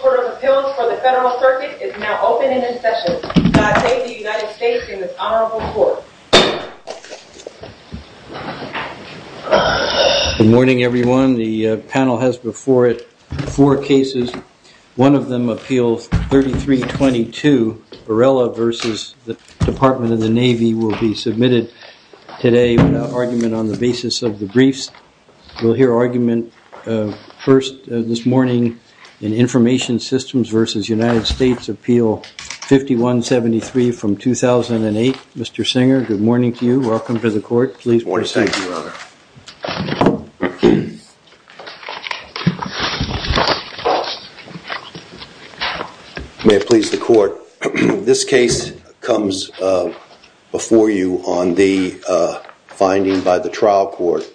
Court of Appeals for the Federal Circuit is now open and in session. God save the United States in this honorable court. Good morning, everyone. The panel has before it four cases. One of them appeals 3322 Varela versus the Department of the Navy will be submitted today without argument on the basis of the briefs will hear argument first this morning in information systems versus United States appeal 5173 from 2008. Mr. Singer. Good morning to you. Welcome to the court. Please. May it please the court. This case comes before you on the finding by the trial court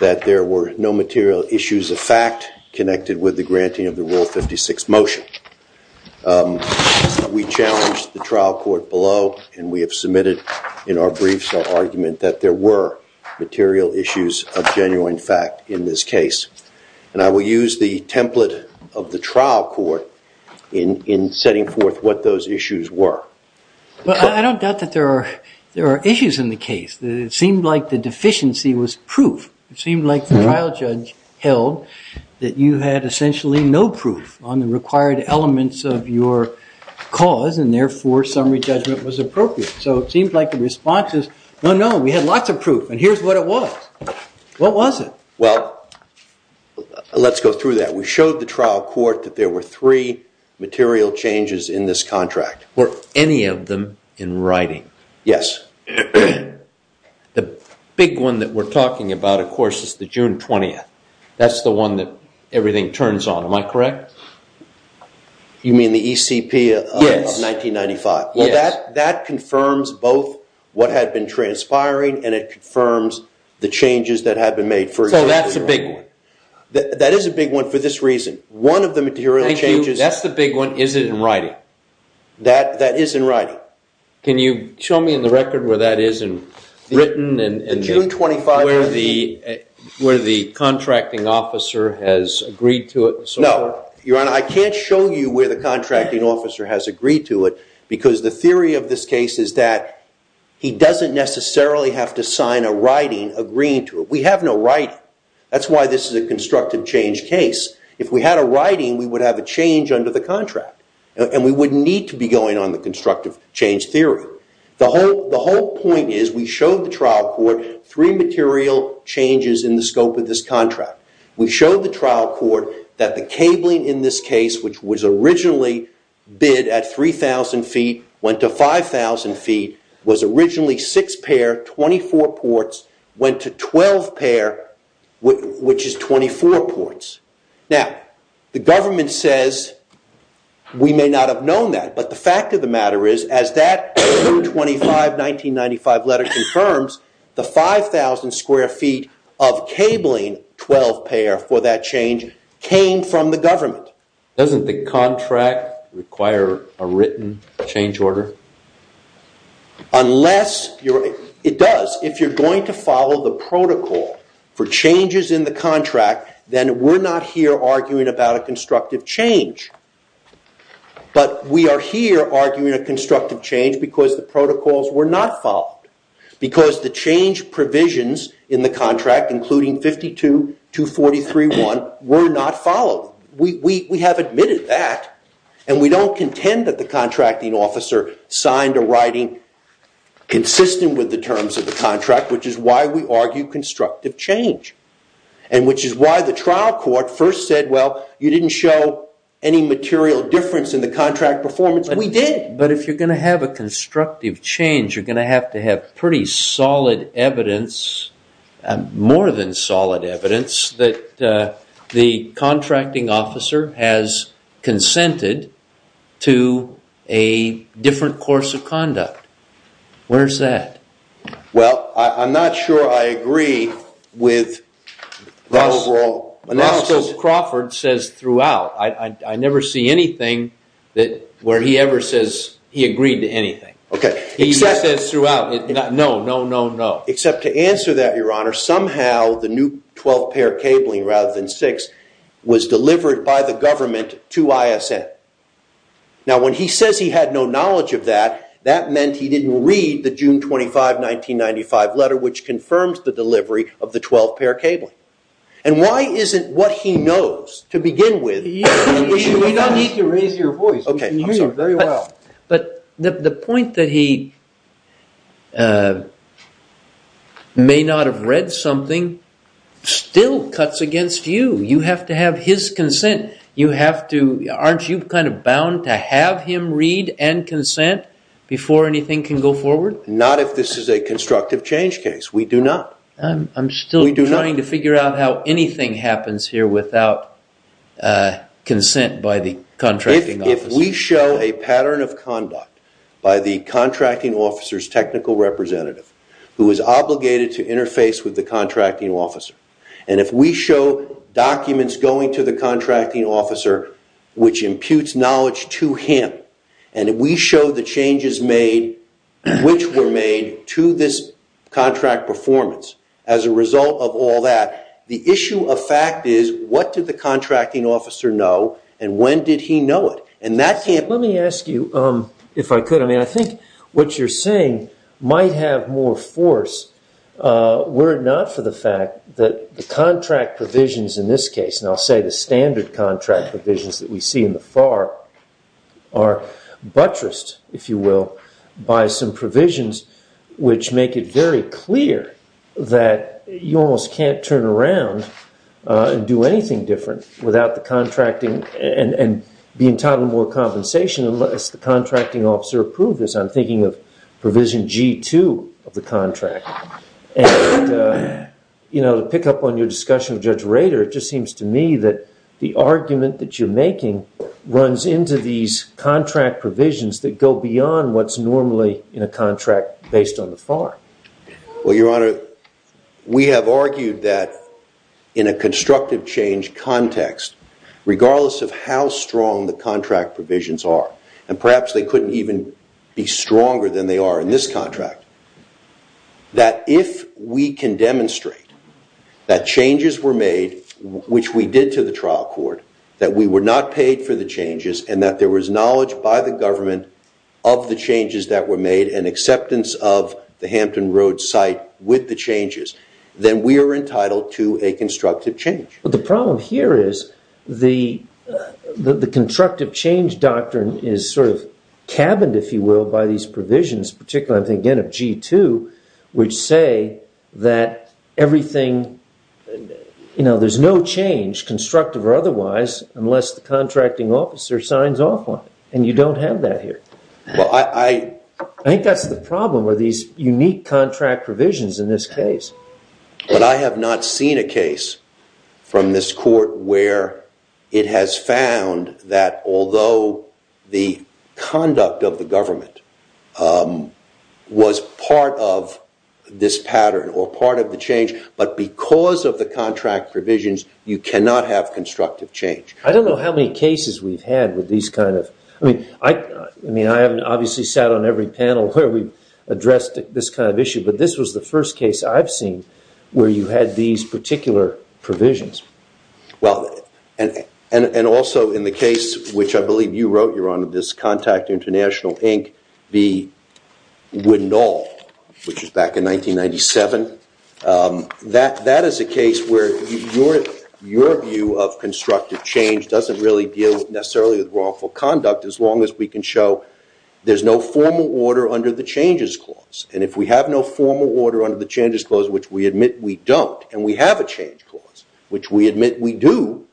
that there were no material issues of fact connected with the granting of the rule 56 motion. We challenge the trial court below and we have submitted in our briefs argument that there were material issues of genuine fact in this case. And I will use the template of the trial court in in setting forth what those issues were. Well, I don't doubt that there are there are issues in the case. It seemed like the deficiency was proof. It seemed like the trial judge held that you had essentially no proof on the required elements of your cause. And therefore, summary judgment was appropriate. So it seems like the response is no, no, we had lots of proof. And here's what it was. What was it? Well, let's go through that. We showed the trial court that there were three material changes in this contract. Were any of them in writing? Yes. The big one that we're talking about, of course, is the June 20th. That's the one that everything turns on. Am I correct? You mean the ECP of 1995? Yes. Well, that confirms both what had been transpiring and it confirms the changes that have been made. So that's a big one. That is a big one for this reason. One of the material changes. That's the big one. Is it in writing? That is in writing. Can you show me in the record where that is in written and where the contracting officer has agreed to it? No. Your Honor, I can't show you where the contracting officer has agreed to it because the theory of this case is that he doesn't necessarily have to sign a writing agreeing to it. We have no writing. That's why this is a constructive change case. If we had a writing, we would have a change under the contract. And we wouldn't need to be going on the constructive change theory. The whole point is we showed the trial court three material changes in the scope of this contract. We showed the trial court that the cabling in this case, which was originally bid at 3,000 feet, went to 5,000 feet, was originally six pair, 24 ports, went to 12 pair, which is 24 ports. Now, the government says we may not have known that. But the fact of the matter is, as that June 25, 1995 letter confirms, the 5,000 square feet of cabling 12 pair for that change came from the government. Doesn't the contract require a written change order? It does. If you're going to follow the protocol for changes in the contract, then we're not here arguing about a constructive change. But we are here arguing a constructive change because the protocols were not followed. Because the change provisions in the contract, including 52-243-1, were not followed. We have admitted that. And we don't contend that the contracting officer signed a writing consistent with the terms of the contract, which is why we argue constructive change. And which is why the trial court first said, well, you didn't show any material difference in the contract performance. We did. But if you're going to have a constructive change, you're going to have to have pretty solid evidence, more than solid evidence, that the contracting officer has consented to a different course of conduct. Where's that? Well, I'm not sure I agree with the overall analysis. Roscoe Crawford says throughout. I never see anything where he ever says he agreed to anything. He just says throughout. No, no, no, no. Except to answer that, your honor, somehow the new 12-pair cabling, rather than six, was delivered by the government to ISN. Now, when he says he had no knowledge of that, that meant he didn't read the June 25, 1995 letter, which confirms the delivery of the 12-pair cabling. And why isn't what he knows, to begin with. You don't need to raise your voice. You can hear me very well. But the point that he may not have read something still cuts against you. You have to have his consent. Aren't you kind of bound to have him read and consent before anything can go forward? Not if this is a constructive change case. We do not. I'm still trying to figure out how anything happens here without consent by the contracting officer. If we show a pattern of conduct by the contracting officer's technical representative, who is obligated to interface with the contracting officer, and if we show documents going to the contracting officer, which imputes knowledge to him, and if we show the changes made, which were made to this contract performance as a result of all that, the issue of fact is, what did the contracting officer know, and when did he know it? Let me ask you, if I could, I think what you're saying might have more force, were it not for the fact that the contract provisions in this case, and I'll say the standard contract provisions that we see in the FAR, are buttressed, if you will, by some provisions which make it very clear that you almost can't turn around and do anything different without the contracting and be entitled to more compensation unless the contracting officer approved this. I'm thinking of provision G2 of the contract. And to pick up on your discussion with Judge Rader, it just seems to me that the argument that you're making runs into these contract provisions that go beyond what's normally in a contract based on the FAR. Well, Your Honor, we have argued that in a constructive change context, regardless of how strong the contract provisions are, and perhaps they couldn't even be stronger than they are in this contract, that if we can demonstrate that changes were made, which we did to the trial court, that we were not paid for the changes, and that there was knowledge by the government of the changes that were made, and acceptance of the Hampton Road site with the changes, then we are entitled to a constructive change. But the problem here is the constructive change doctrine is sort of cabined, if you will, by these provisions, particularly, I think, again, of G2, which say that there's no change, constructive or otherwise, unless the contracting officer signs off on it. And you don't have that here. I think that's the problem with these unique contract provisions in this case. But I have not seen a case from this court where it has found that although the conduct of the government was part of this pattern or part of the change, but because of the contract provisions, you cannot have constructive change. I don't know how many cases we've had with these kind of – I mean, I haven't obviously sat on every panel where we've addressed this kind of issue, but this was the first case I've seen where you had these particular provisions. Well, and also in the case which I believe you wrote, Your Honor, this Contact International, Inc. v. Wignall, which was back in 1997, that is a case where your view of constructive change doesn't really deal necessarily with wrongful conduct as long as we can show there's no formal order under the changes clause. And if we have no formal order under the changes clause, which we admit we don't, and we have a change clause, which we admit we do,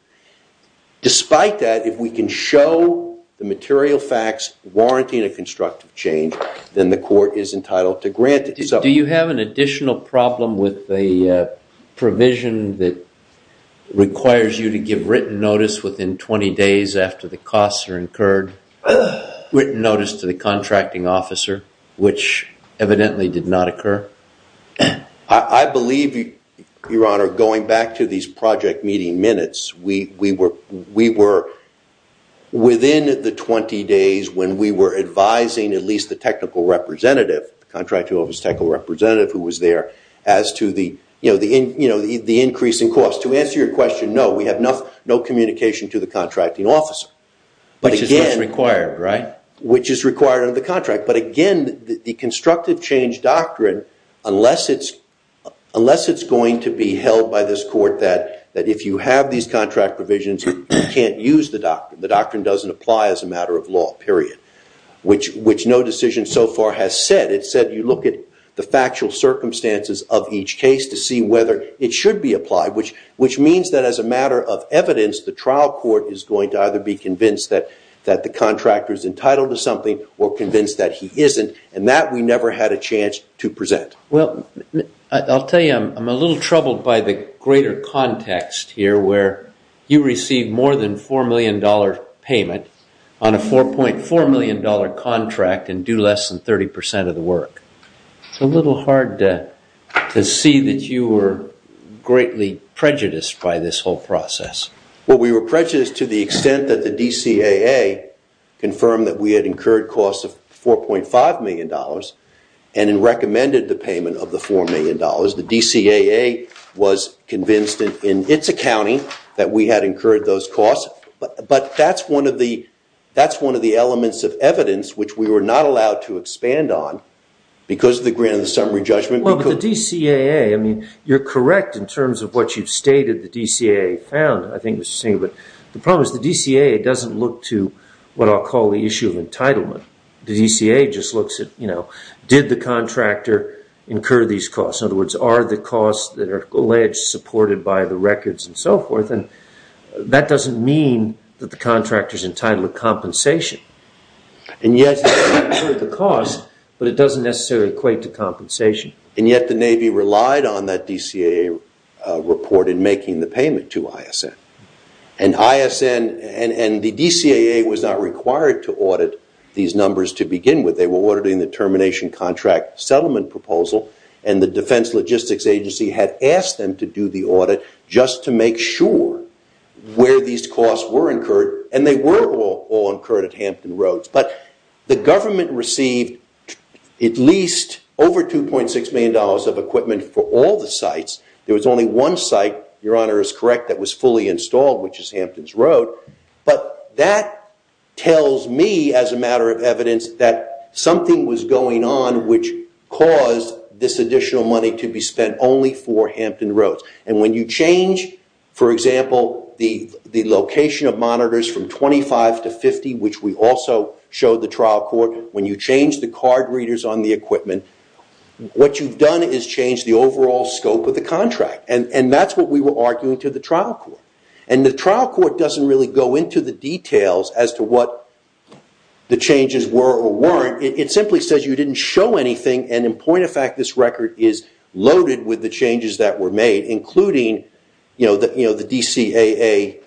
despite that, if we can show the material facts warranting a constructive change, then the court is entitled to grant it. Do you have an additional problem with the provision that requires you to give written notice within 20 days after the costs are incurred, written notice to the contracting officer, which evidently did not occur? I believe, Your Honor, going back to these project meeting minutes, we were within the 20 days when we were advising at least the technical representative, the contracting officer's technical representative who was there, as to the increase in costs. To answer your question, no, we have no communication to the contracting officer. Which is what's required, right? Which is required under the contract. But again, the constructive change doctrine, unless it's going to be held by this court that if you have these contract provisions, you can't use the doctrine. The doctrine doesn't apply as a matter of law, period. Which no decision so far has said. It said you look at the factual circumstances of each case to see whether it should be applied, which means that as a matter of evidence, the trial court is going to either be convinced that the contractor is entitled to something or convinced that he isn't. And that we never had a chance to present. Well, I'll tell you, I'm a little troubled by the greater context here where you receive more than $4 million payment on a $4.4 million contract and do less than 30% of the work. It's a little hard to see that you were greatly prejudiced by this whole process. Well, we were prejudiced to the extent that the DCAA confirmed that we had incurred costs of $4.5 million and then recommended the payment of the $4 million. The DCAA was convinced in its accounting that we had incurred those costs. But that's one of the elements of evidence which we were not allowed to expand on because of the grant of the summary judgment. Well, but the DCAA, I mean, you're correct in terms of what you've stated the DCAA found, I think, Mr. Singer. But the problem is the DCAA doesn't look to what I'll call the issue of entitlement. The DCAA just looks at, you know, did the contractor incur these costs? In other words, are the costs that are alleged supported by the records and so forth? And that doesn't mean that the contractor is entitled to compensation. And yet the cost, but it doesn't necessarily equate to compensation. And yet the Navy relied on that DCAA report in making the payment to ISN. And ISN and the DCAA was not required to audit these numbers to begin with. They were auditing the termination contract settlement proposal. And the Defense Logistics Agency had asked them to do the audit just to make sure where these costs were incurred. And they were all incurred at Hampton Roads. But the government received at least over $2.6 million of equipment for all the sites. There was only one site, Your Honor is correct, that was fully installed, which is Hampton's Road. But that tells me, as a matter of evidence, that something was going on which caused this additional money to be spent only for Hampton Roads. And when you change, for example, the location of monitors from 25 to 50, which we also showed the trial court, when you change the card readers on the equipment, what you've done is changed the overall scope of the contract. And that's what we were arguing to the trial court. And the trial court doesn't really go into the details as to what the changes were or weren't. It simply says you didn't show anything. And in point of fact, this record is loaded with the changes that were made, including the DCAA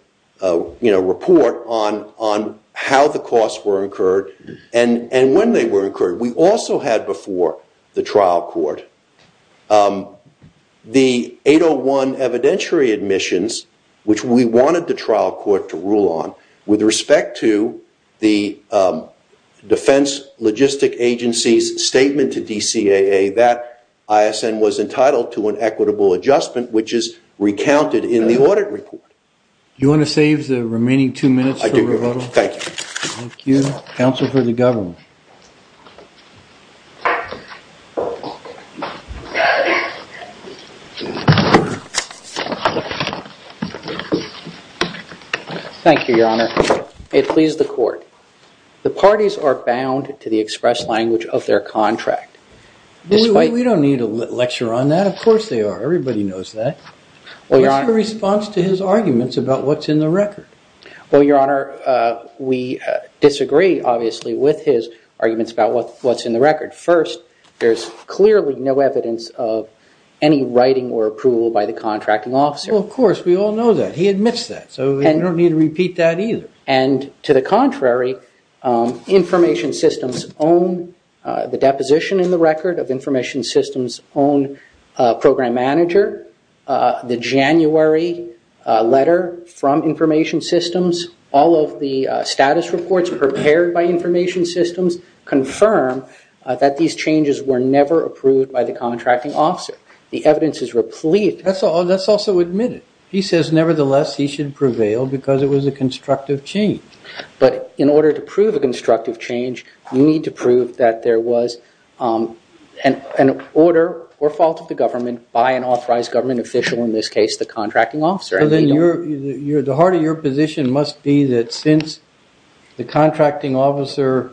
report on how the costs were incurred and when they were incurred. We also had before the trial court the 801 evidentiary admissions, which we wanted the trial court to rule on, with respect to the defense logistic agency's statement to DCAA that ISN was entitled to an equitable adjustment, which is recounted in the audit report. Do you want to save the remaining two minutes? I do. Thank you. Thank you. Counsel for the government. Thank you, Your Honor. It pleased the court. The parties are bound to the express language of their contract. We don't need a lecture on that. Of course they are. Everybody knows that. What's your response to his arguments about what's in the record? Well, Your Honor, we disagree, obviously, with his arguments about what's in the record. First, there's clearly no evidence of any writing or approval by the contracting officer. Well, of course, we all know that. He admits that. So we don't need to repeat that either. And to the contrary, the deposition in the record of Information Systems' own program manager, the January letter from Information Systems, all of the status reports prepared by Information Systems confirm that these changes were never approved by the contracting officer. The evidence is replete. Let's also admit it. He says, nevertheless, he should prevail because it was a constructive change. But in order to prove a constructive change, you need to prove that there was an order or fault of the government by an authorized government official, in this case, the contracting officer. The heart of your position must be that since the contracting officer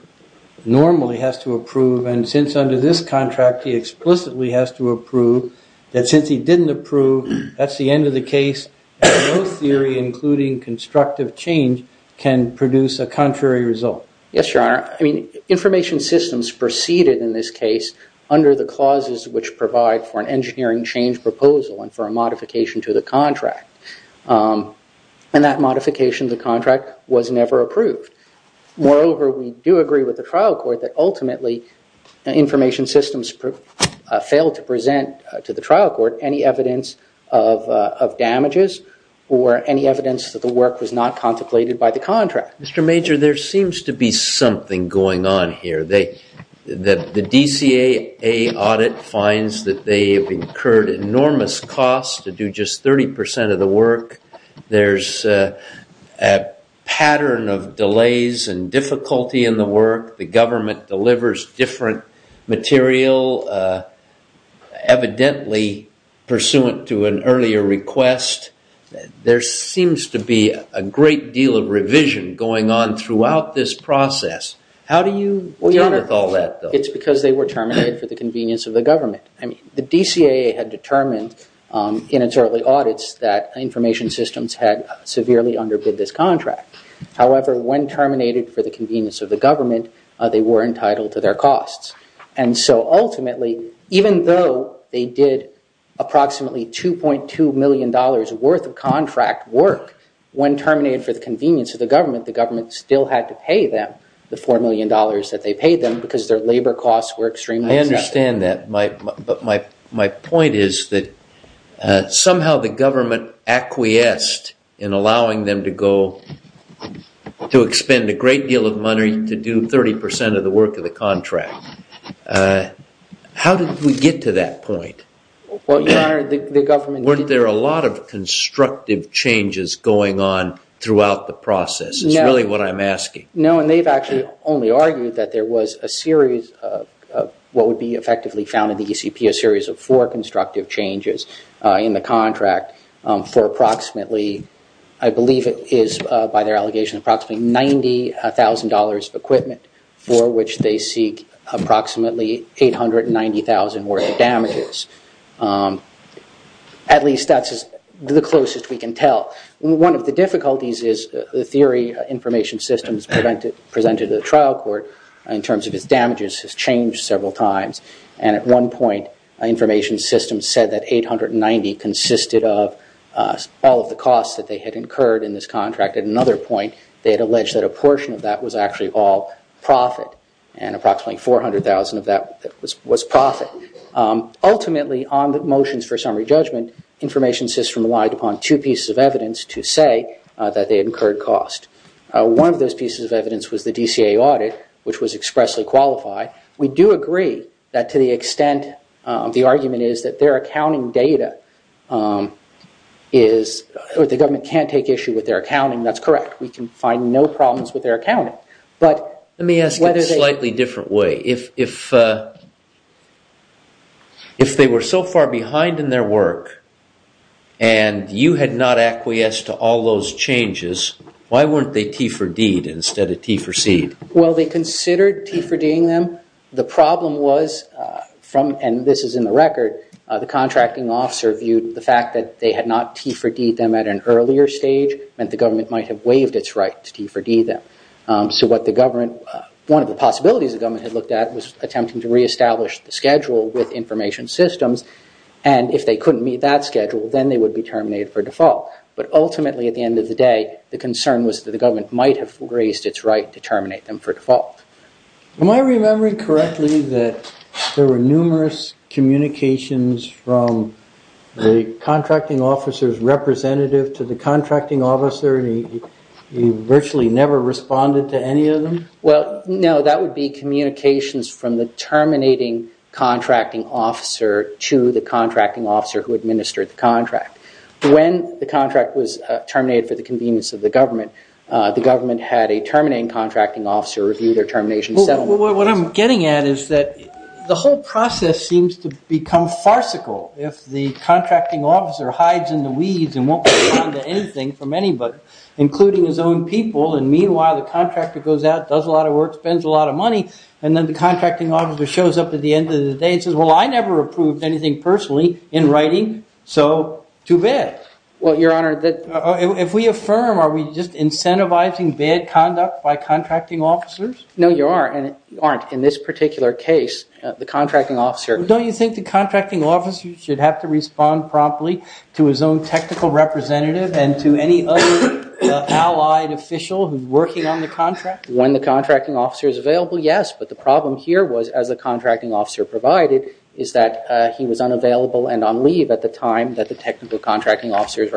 normally has to approve, and since under this contract he explicitly has to approve, that since he didn't approve, that's the end of the case. And no theory, including constructive change, can produce a contrary result. Yes, Your Honor. I mean, Information Systems proceeded in this case under the clauses which provide for an engineering change proposal and for a modification to the contract. And that modification to the contract was never approved. Moreover, we do agree with the trial court that ultimately Information Systems failed to present to the trial court any evidence of damages or any evidence that the work was not contemplated by the contract. Mr. Major, there seems to be something going on here. The DCAA audit finds that they have incurred enormous costs to do just 30 percent of the work. There's a pattern of delays and difficulty in the work. The government delivers different material, evidently pursuant to an earlier request. There seems to be a great deal of revision going on throughout this process. How do you deal with all that, though? Well, Your Honor, it's because they were terminated for the convenience of the government. I mean, the DCAA had determined in its early audits that Information Systems had severely underbid this contract. However, when terminated for the convenience of the government, they were entitled to their costs. And so ultimately, even though they did approximately $2.2 million worth of contract work, when terminated for the convenience of the government, the government still had to pay them the $4 million that they paid them because their labor costs were extremely excessive. I understand that. But my point is that somehow the government acquiesced in allowing them to go to expend a great deal of money to do 30 percent of the work of the contract. How did we get to that point? Weren't there a lot of constructive changes going on throughout the process is really what I'm asking. No, and they've actually only argued that there was a series of what would be effectively found in the ECP, a series of four constructive changes in the contract for approximately, I believe it is by their allegation, approximately $90,000 equipment for which they seek approximately $890,000 worth of damages. At least that's the closest we can tell. One of the difficulties is the theory information systems presented to the trial court in terms of its damages has changed several times. And at one point, information systems said that $890,000 consisted of all of the costs that they had incurred in this contract. At another point, they had alleged that a portion of that was actually all profit, and approximately $400,000 of that was profit. Ultimately, on the motions for summary judgment, information system relied upon two pieces of evidence to say that they incurred cost. One of those pieces of evidence was the DCA audit, which was expressly qualified. We do agree that to the extent the argument is that their accounting data is, or the government can't take issue with their accounting, that's correct. We can find no problems with their accounting. Let me ask it a slightly different way. If they were so far behind in their work and you had not acquiesced to all those changes, why weren't they T4D'd instead of T4C'd? Well, they considered T4D'ing them. The problem was, and this is in the record, the contracting officer viewed the fact that they had not T4D'd them at an earlier stage meant the government might have waived its right to T4D them. One of the possibilities the government had looked at was attempting to reestablish the schedule with information systems, and if they couldn't meet that schedule, then they would be terminated for default. But ultimately, at the end of the day, the concern was that the government might have raised its right to terminate them for default. Am I remembering correctly that there were numerous communications from the contracting officer's representative to the contracting officer and he virtually never responded to any of them? Well, no. That would be communications from the terminating contracting officer to the contracting officer who administered the contract. When the contract was terminated for the convenience of the government, the government had a terminating contracting officer review their termination settlement. What I'm getting at is that the whole process seems to become farcical. If the contracting officer hides in the weeds and won't respond to anything from anybody, including his own people, and meanwhile the contractor goes out, does a lot of work, spends a lot of money, and then the contracting officer shows up at the end of the day and says, well, I never approved anything personally in writing, so too bad. Well, Your Honor, that- If we affirm, are we just incentivizing bad conduct by contracting officers? No, you aren't. You aren't. In this particular case, the contracting officer- So don't you think the contracting officer should have to respond promptly to his own technical representative and to any other allied official who's working on the contract? When the contracting officer is available, yes. But the problem here was, as the contracting officer provided, is that he was unavailable and on leave at the time that the technical contracting officer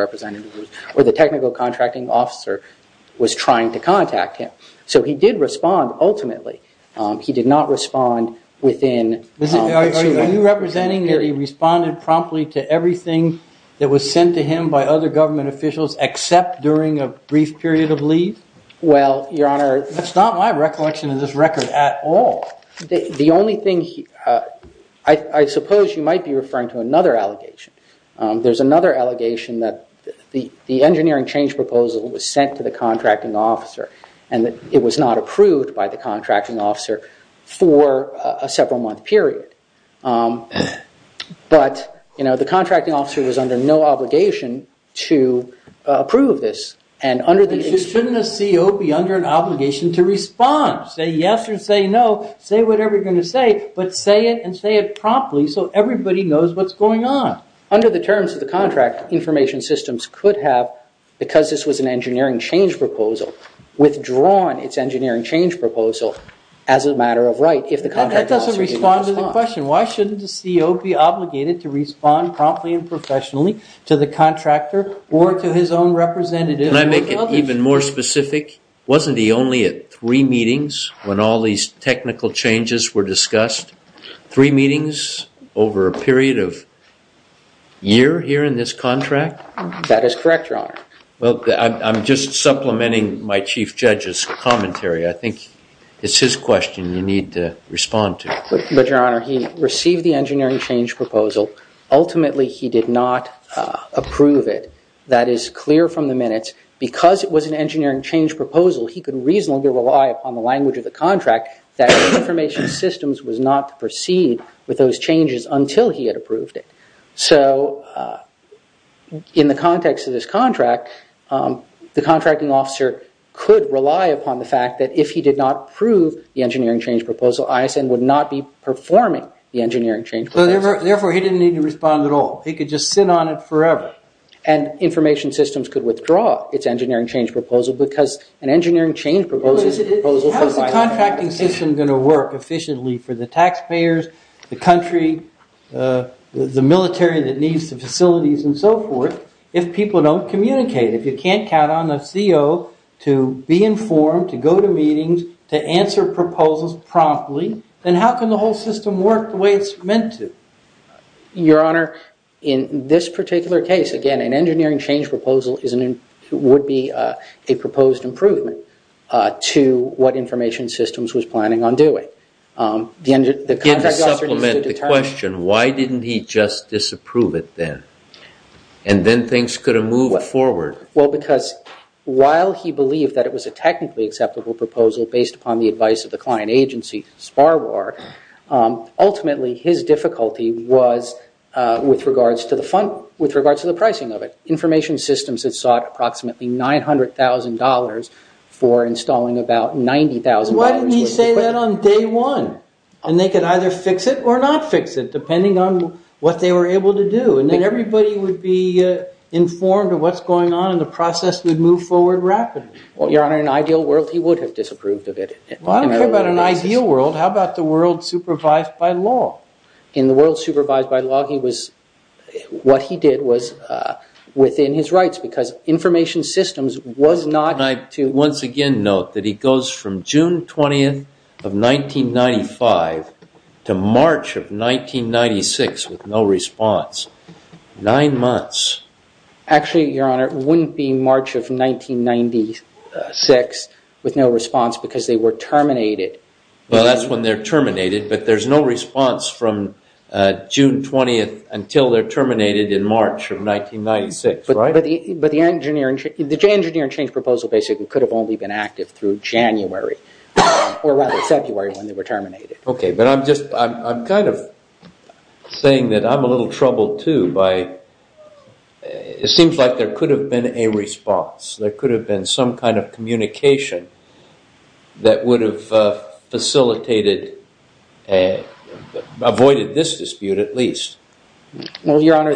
was trying to contact him. So he did respond, ultimately. He did not respond within- Are you representing that he responded promptly to everything that was sent to him by other government officials except during a brief period of leave? Well, Your Honor- That's not my recollection of this record at all. The only thing- I suppose you might be referring to another allegation. There's another allegation that the engineering change proposal was sent to the contracting officer and that it was not approved by the contracting officer for a several-month period. But the contracting officer was under no obligation to approve this. Shouldn't a CO be under an obligation to respond? Say yes or say no. Say whatever you're going to say, but say it and say it promptly so everybody knows what's going on. Under the terms of the contract, information systems could have, because this was an engineering change proposal, withdrawn its engineering change proposal as a matter of right if the contracting officer didn't respond. That doesn't respond to the question. Why shouldn't a CO be obligated to respond promptly and professionally to the contractor or to his own representative? Can I make it even more specific? Wasn't he only at three meetings when all these technical changes were discussed? Three meetings over a period of year here in this contract? That is correct, Your Honor. Well, I'm just supplementing my chief judge's commentary. I think it's his question you need to respond to. But, Your Honor, he received the engineering change proposal. Ultimately, he did not approve it. That is clear from the minutes. Because it was an engineering change proposal, he could reasonably rely upon the language of the contract that information systems was not to proceed with those changes until he had approved it. So, in the context of this contract, the contracting officer could rely upon the fact that if he did not approve the engineering change proposal, ISN would not be performing the engineering change proposal. Therefore, he didn't need to respond at all. He could just sit on it forever. And information systems could withdraw its engineering change proposal because an engineering change proposal... How is the contracting system going to work efficiently for the taxpayers, the country, the military that needs the facilities, and so forth, if people don't communicate? If you can't count on the CO to be informed, to go to meetings, to answer proposals promptly, then how can the whole system work the way it's meant to? Your Honor, in this particular case, again, an engineering change proposal would be a proposed improvement to what information systems was planning on doing. Again, to supplement the question, why didn't he just disapprove it then? And then things could have moved forward. Well, because while he believed that it was a technically acceptable proposal based upon the advice of the client agency, Sparwar, ultimately his difficulty was with regards to the pricing of it. Information systems had sought approximately $900,000 for installing about $90,000 worth of equipment. Why didn't he say that on day one? And they could either fix it or not fix it, depending on what they were able to do. And then everybody would be informed of what's going on, and the process would move forward rapidly. Well, Your Honor, in an ideal world, he would have disapproved of it. Well, I don't care about an ideal world. How about the world supervised by law? In the world supervised by law, what he did was within his rights, because information systems was not to- And I once again note that he goes from June 20th of 1995 to March of 1996 with no response. Nine months. Actually, Your Honor, it wouldn't be March of 1996 with no response because they were terminated. Well, that's when they're terminated, but there's no response from June 20th until they're terminated in March of 1996, right? But the engineering change proposal basically could have only been active through January, or rather February when they were terminated. Okay, but I'm kind of saying that I'm a little troubled, too. It seems like there could have been a response. There could have been some kind of communication that would have facilitated, avoided this dispute at least. Well, Your Honor,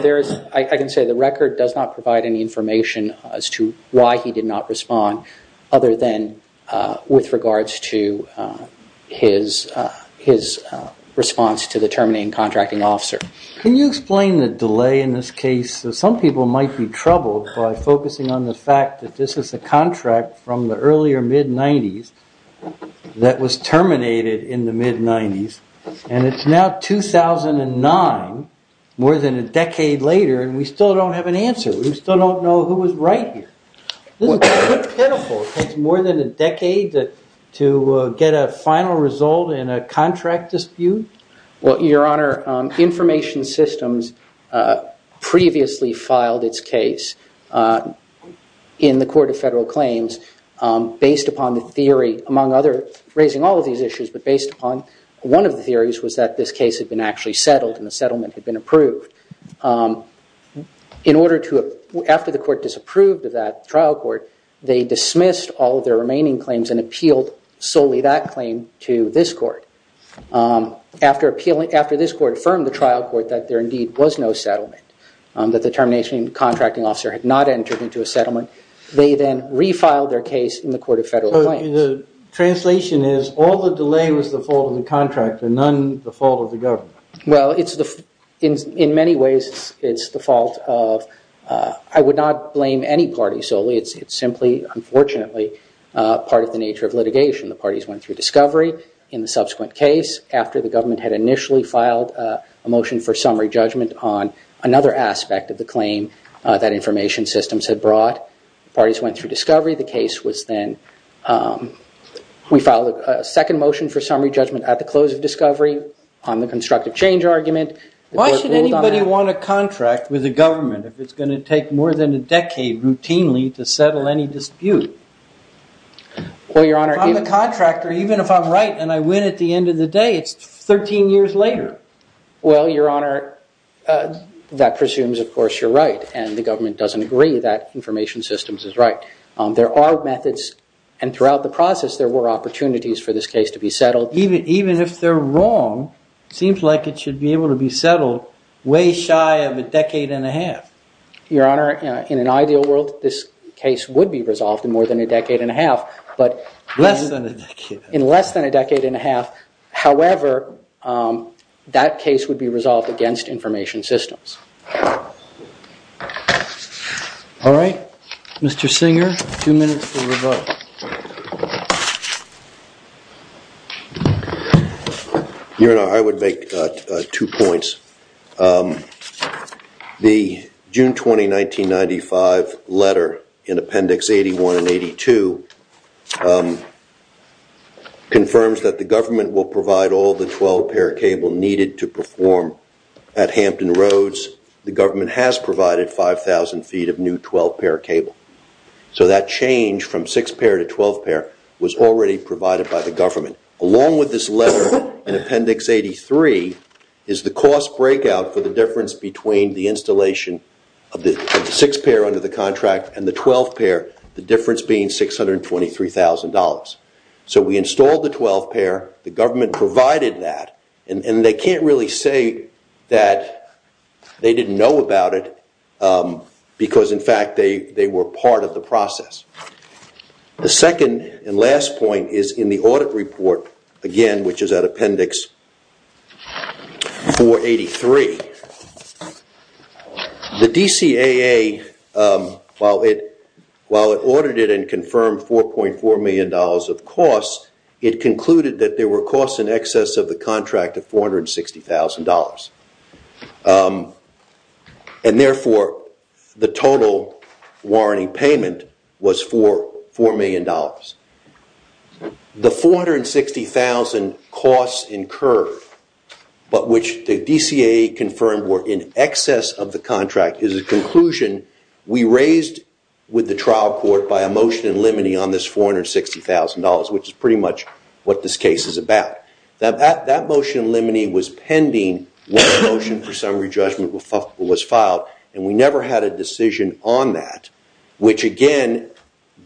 I can say the record does not provide any information as to why he did not respond, other than with regards to his response to the terminating contracting officer. Can you explain the delay in this case? Some people might be troubled by focusing on the fact that this is a contract from the earlier mid-90s that was terminated in the mid-90s, and it's now 2009, more than a decade later, and we still don't have an answer. We still don't know who was right here. This is a pinnacle. It takes more than a decade to get a final result in a contract dispute? Well, Your Honor, Information Systems previously filed its case in the Court of Federal Claims based upon the theory, among other, raising all of these issues, but based upon one of the theories was that this case had been actually settled and the settlement had been approved. After the court disapproved of that trial court, they dismissed all of their remaining claims and appealed solely that claim to this court. After this court affirmed to the trial court that there indeed was no settlement, that the terminating contracting officer had not entered into a settlement, they then refiled their case in the Court of Federal Claims. The translation is all the delay was the fault of the contract and none the fault of the government? Well, in many ways, it's the fault of, I would not blame any party solely. It's simply, unfortunately, part of the nature of litigation. The parties went through discovery in the subsequent case. After the government had initially filed a motion for summary judgment on another aspect of the claim that Information Systems had brought, parties went through discovery. The case was then, we filed a second motion for summary judgment at the close of discovery on the constructive change argument. Why should anybody want a contract with the government if it's going to take more than a decade routinely to settle any dispute? Well, Your Honor. If I'm the contractor, even if I'm right and I win at the end of the day, it's 13 years later. Well, Your Honor, that presumes, of course, you're right and the government doesn't agree that Information Systems is right. There are methods and throughout the process there were opportunities for this case to be settled. Even if they're wrong, it seems like it should be able to be settled way shy of a decade and a half. Your Honor, in an ideal world, this case would be resolved in more than a decade and a half. Less than a decade. In less than a decade and a half. However, that case would be resolved against Information Systems. All right. Mr. Singer, two minutes to rebut. Your Honor, I would make two points. The June 20, 1995 letter in appendix 81 and 82 confirms that the government will provide all the 12-pair cable needed to perform at Hampton Roads. The government has provided 5,000 feet of new 12-pair cable. So that change from 6-pair to 12-pair was already provided by the government. Along with this letter in appendix 83 is the cost breakout for the difference between the installation of the 6-pair under the contract and the 12-pair, the difference being $623,000. So we installed the 12-pair. The government provided that. And they can't really say that they didn't know about it because, in fact, they were part of the process. The second and last point is in the audit report, again, which is at appendix 483. The DCAA, while it audited and confirmed $4.4 million of costs, it concluded that there were costs in excess of the contract of $460,000. And therefore, the total warranty payment was $4 million. The $460,000 costs incurred, but which the DCAA confirmed were in excess of the contract, is a conclusion we raised with the trial court by a motion in limine on this $460,000, which is pretty much what this case is about. That motion in limine was pending when the motion for summary judgment was filed, and we never had a decision on that, which, again,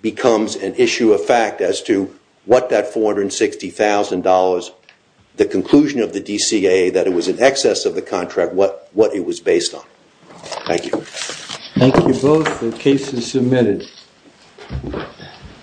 becomes an issue of fact as to what that $460,000, the conclusion of the DCAA that it was in excess of the contract, what it was based on. Thank you. Thank you both. The case is submitted.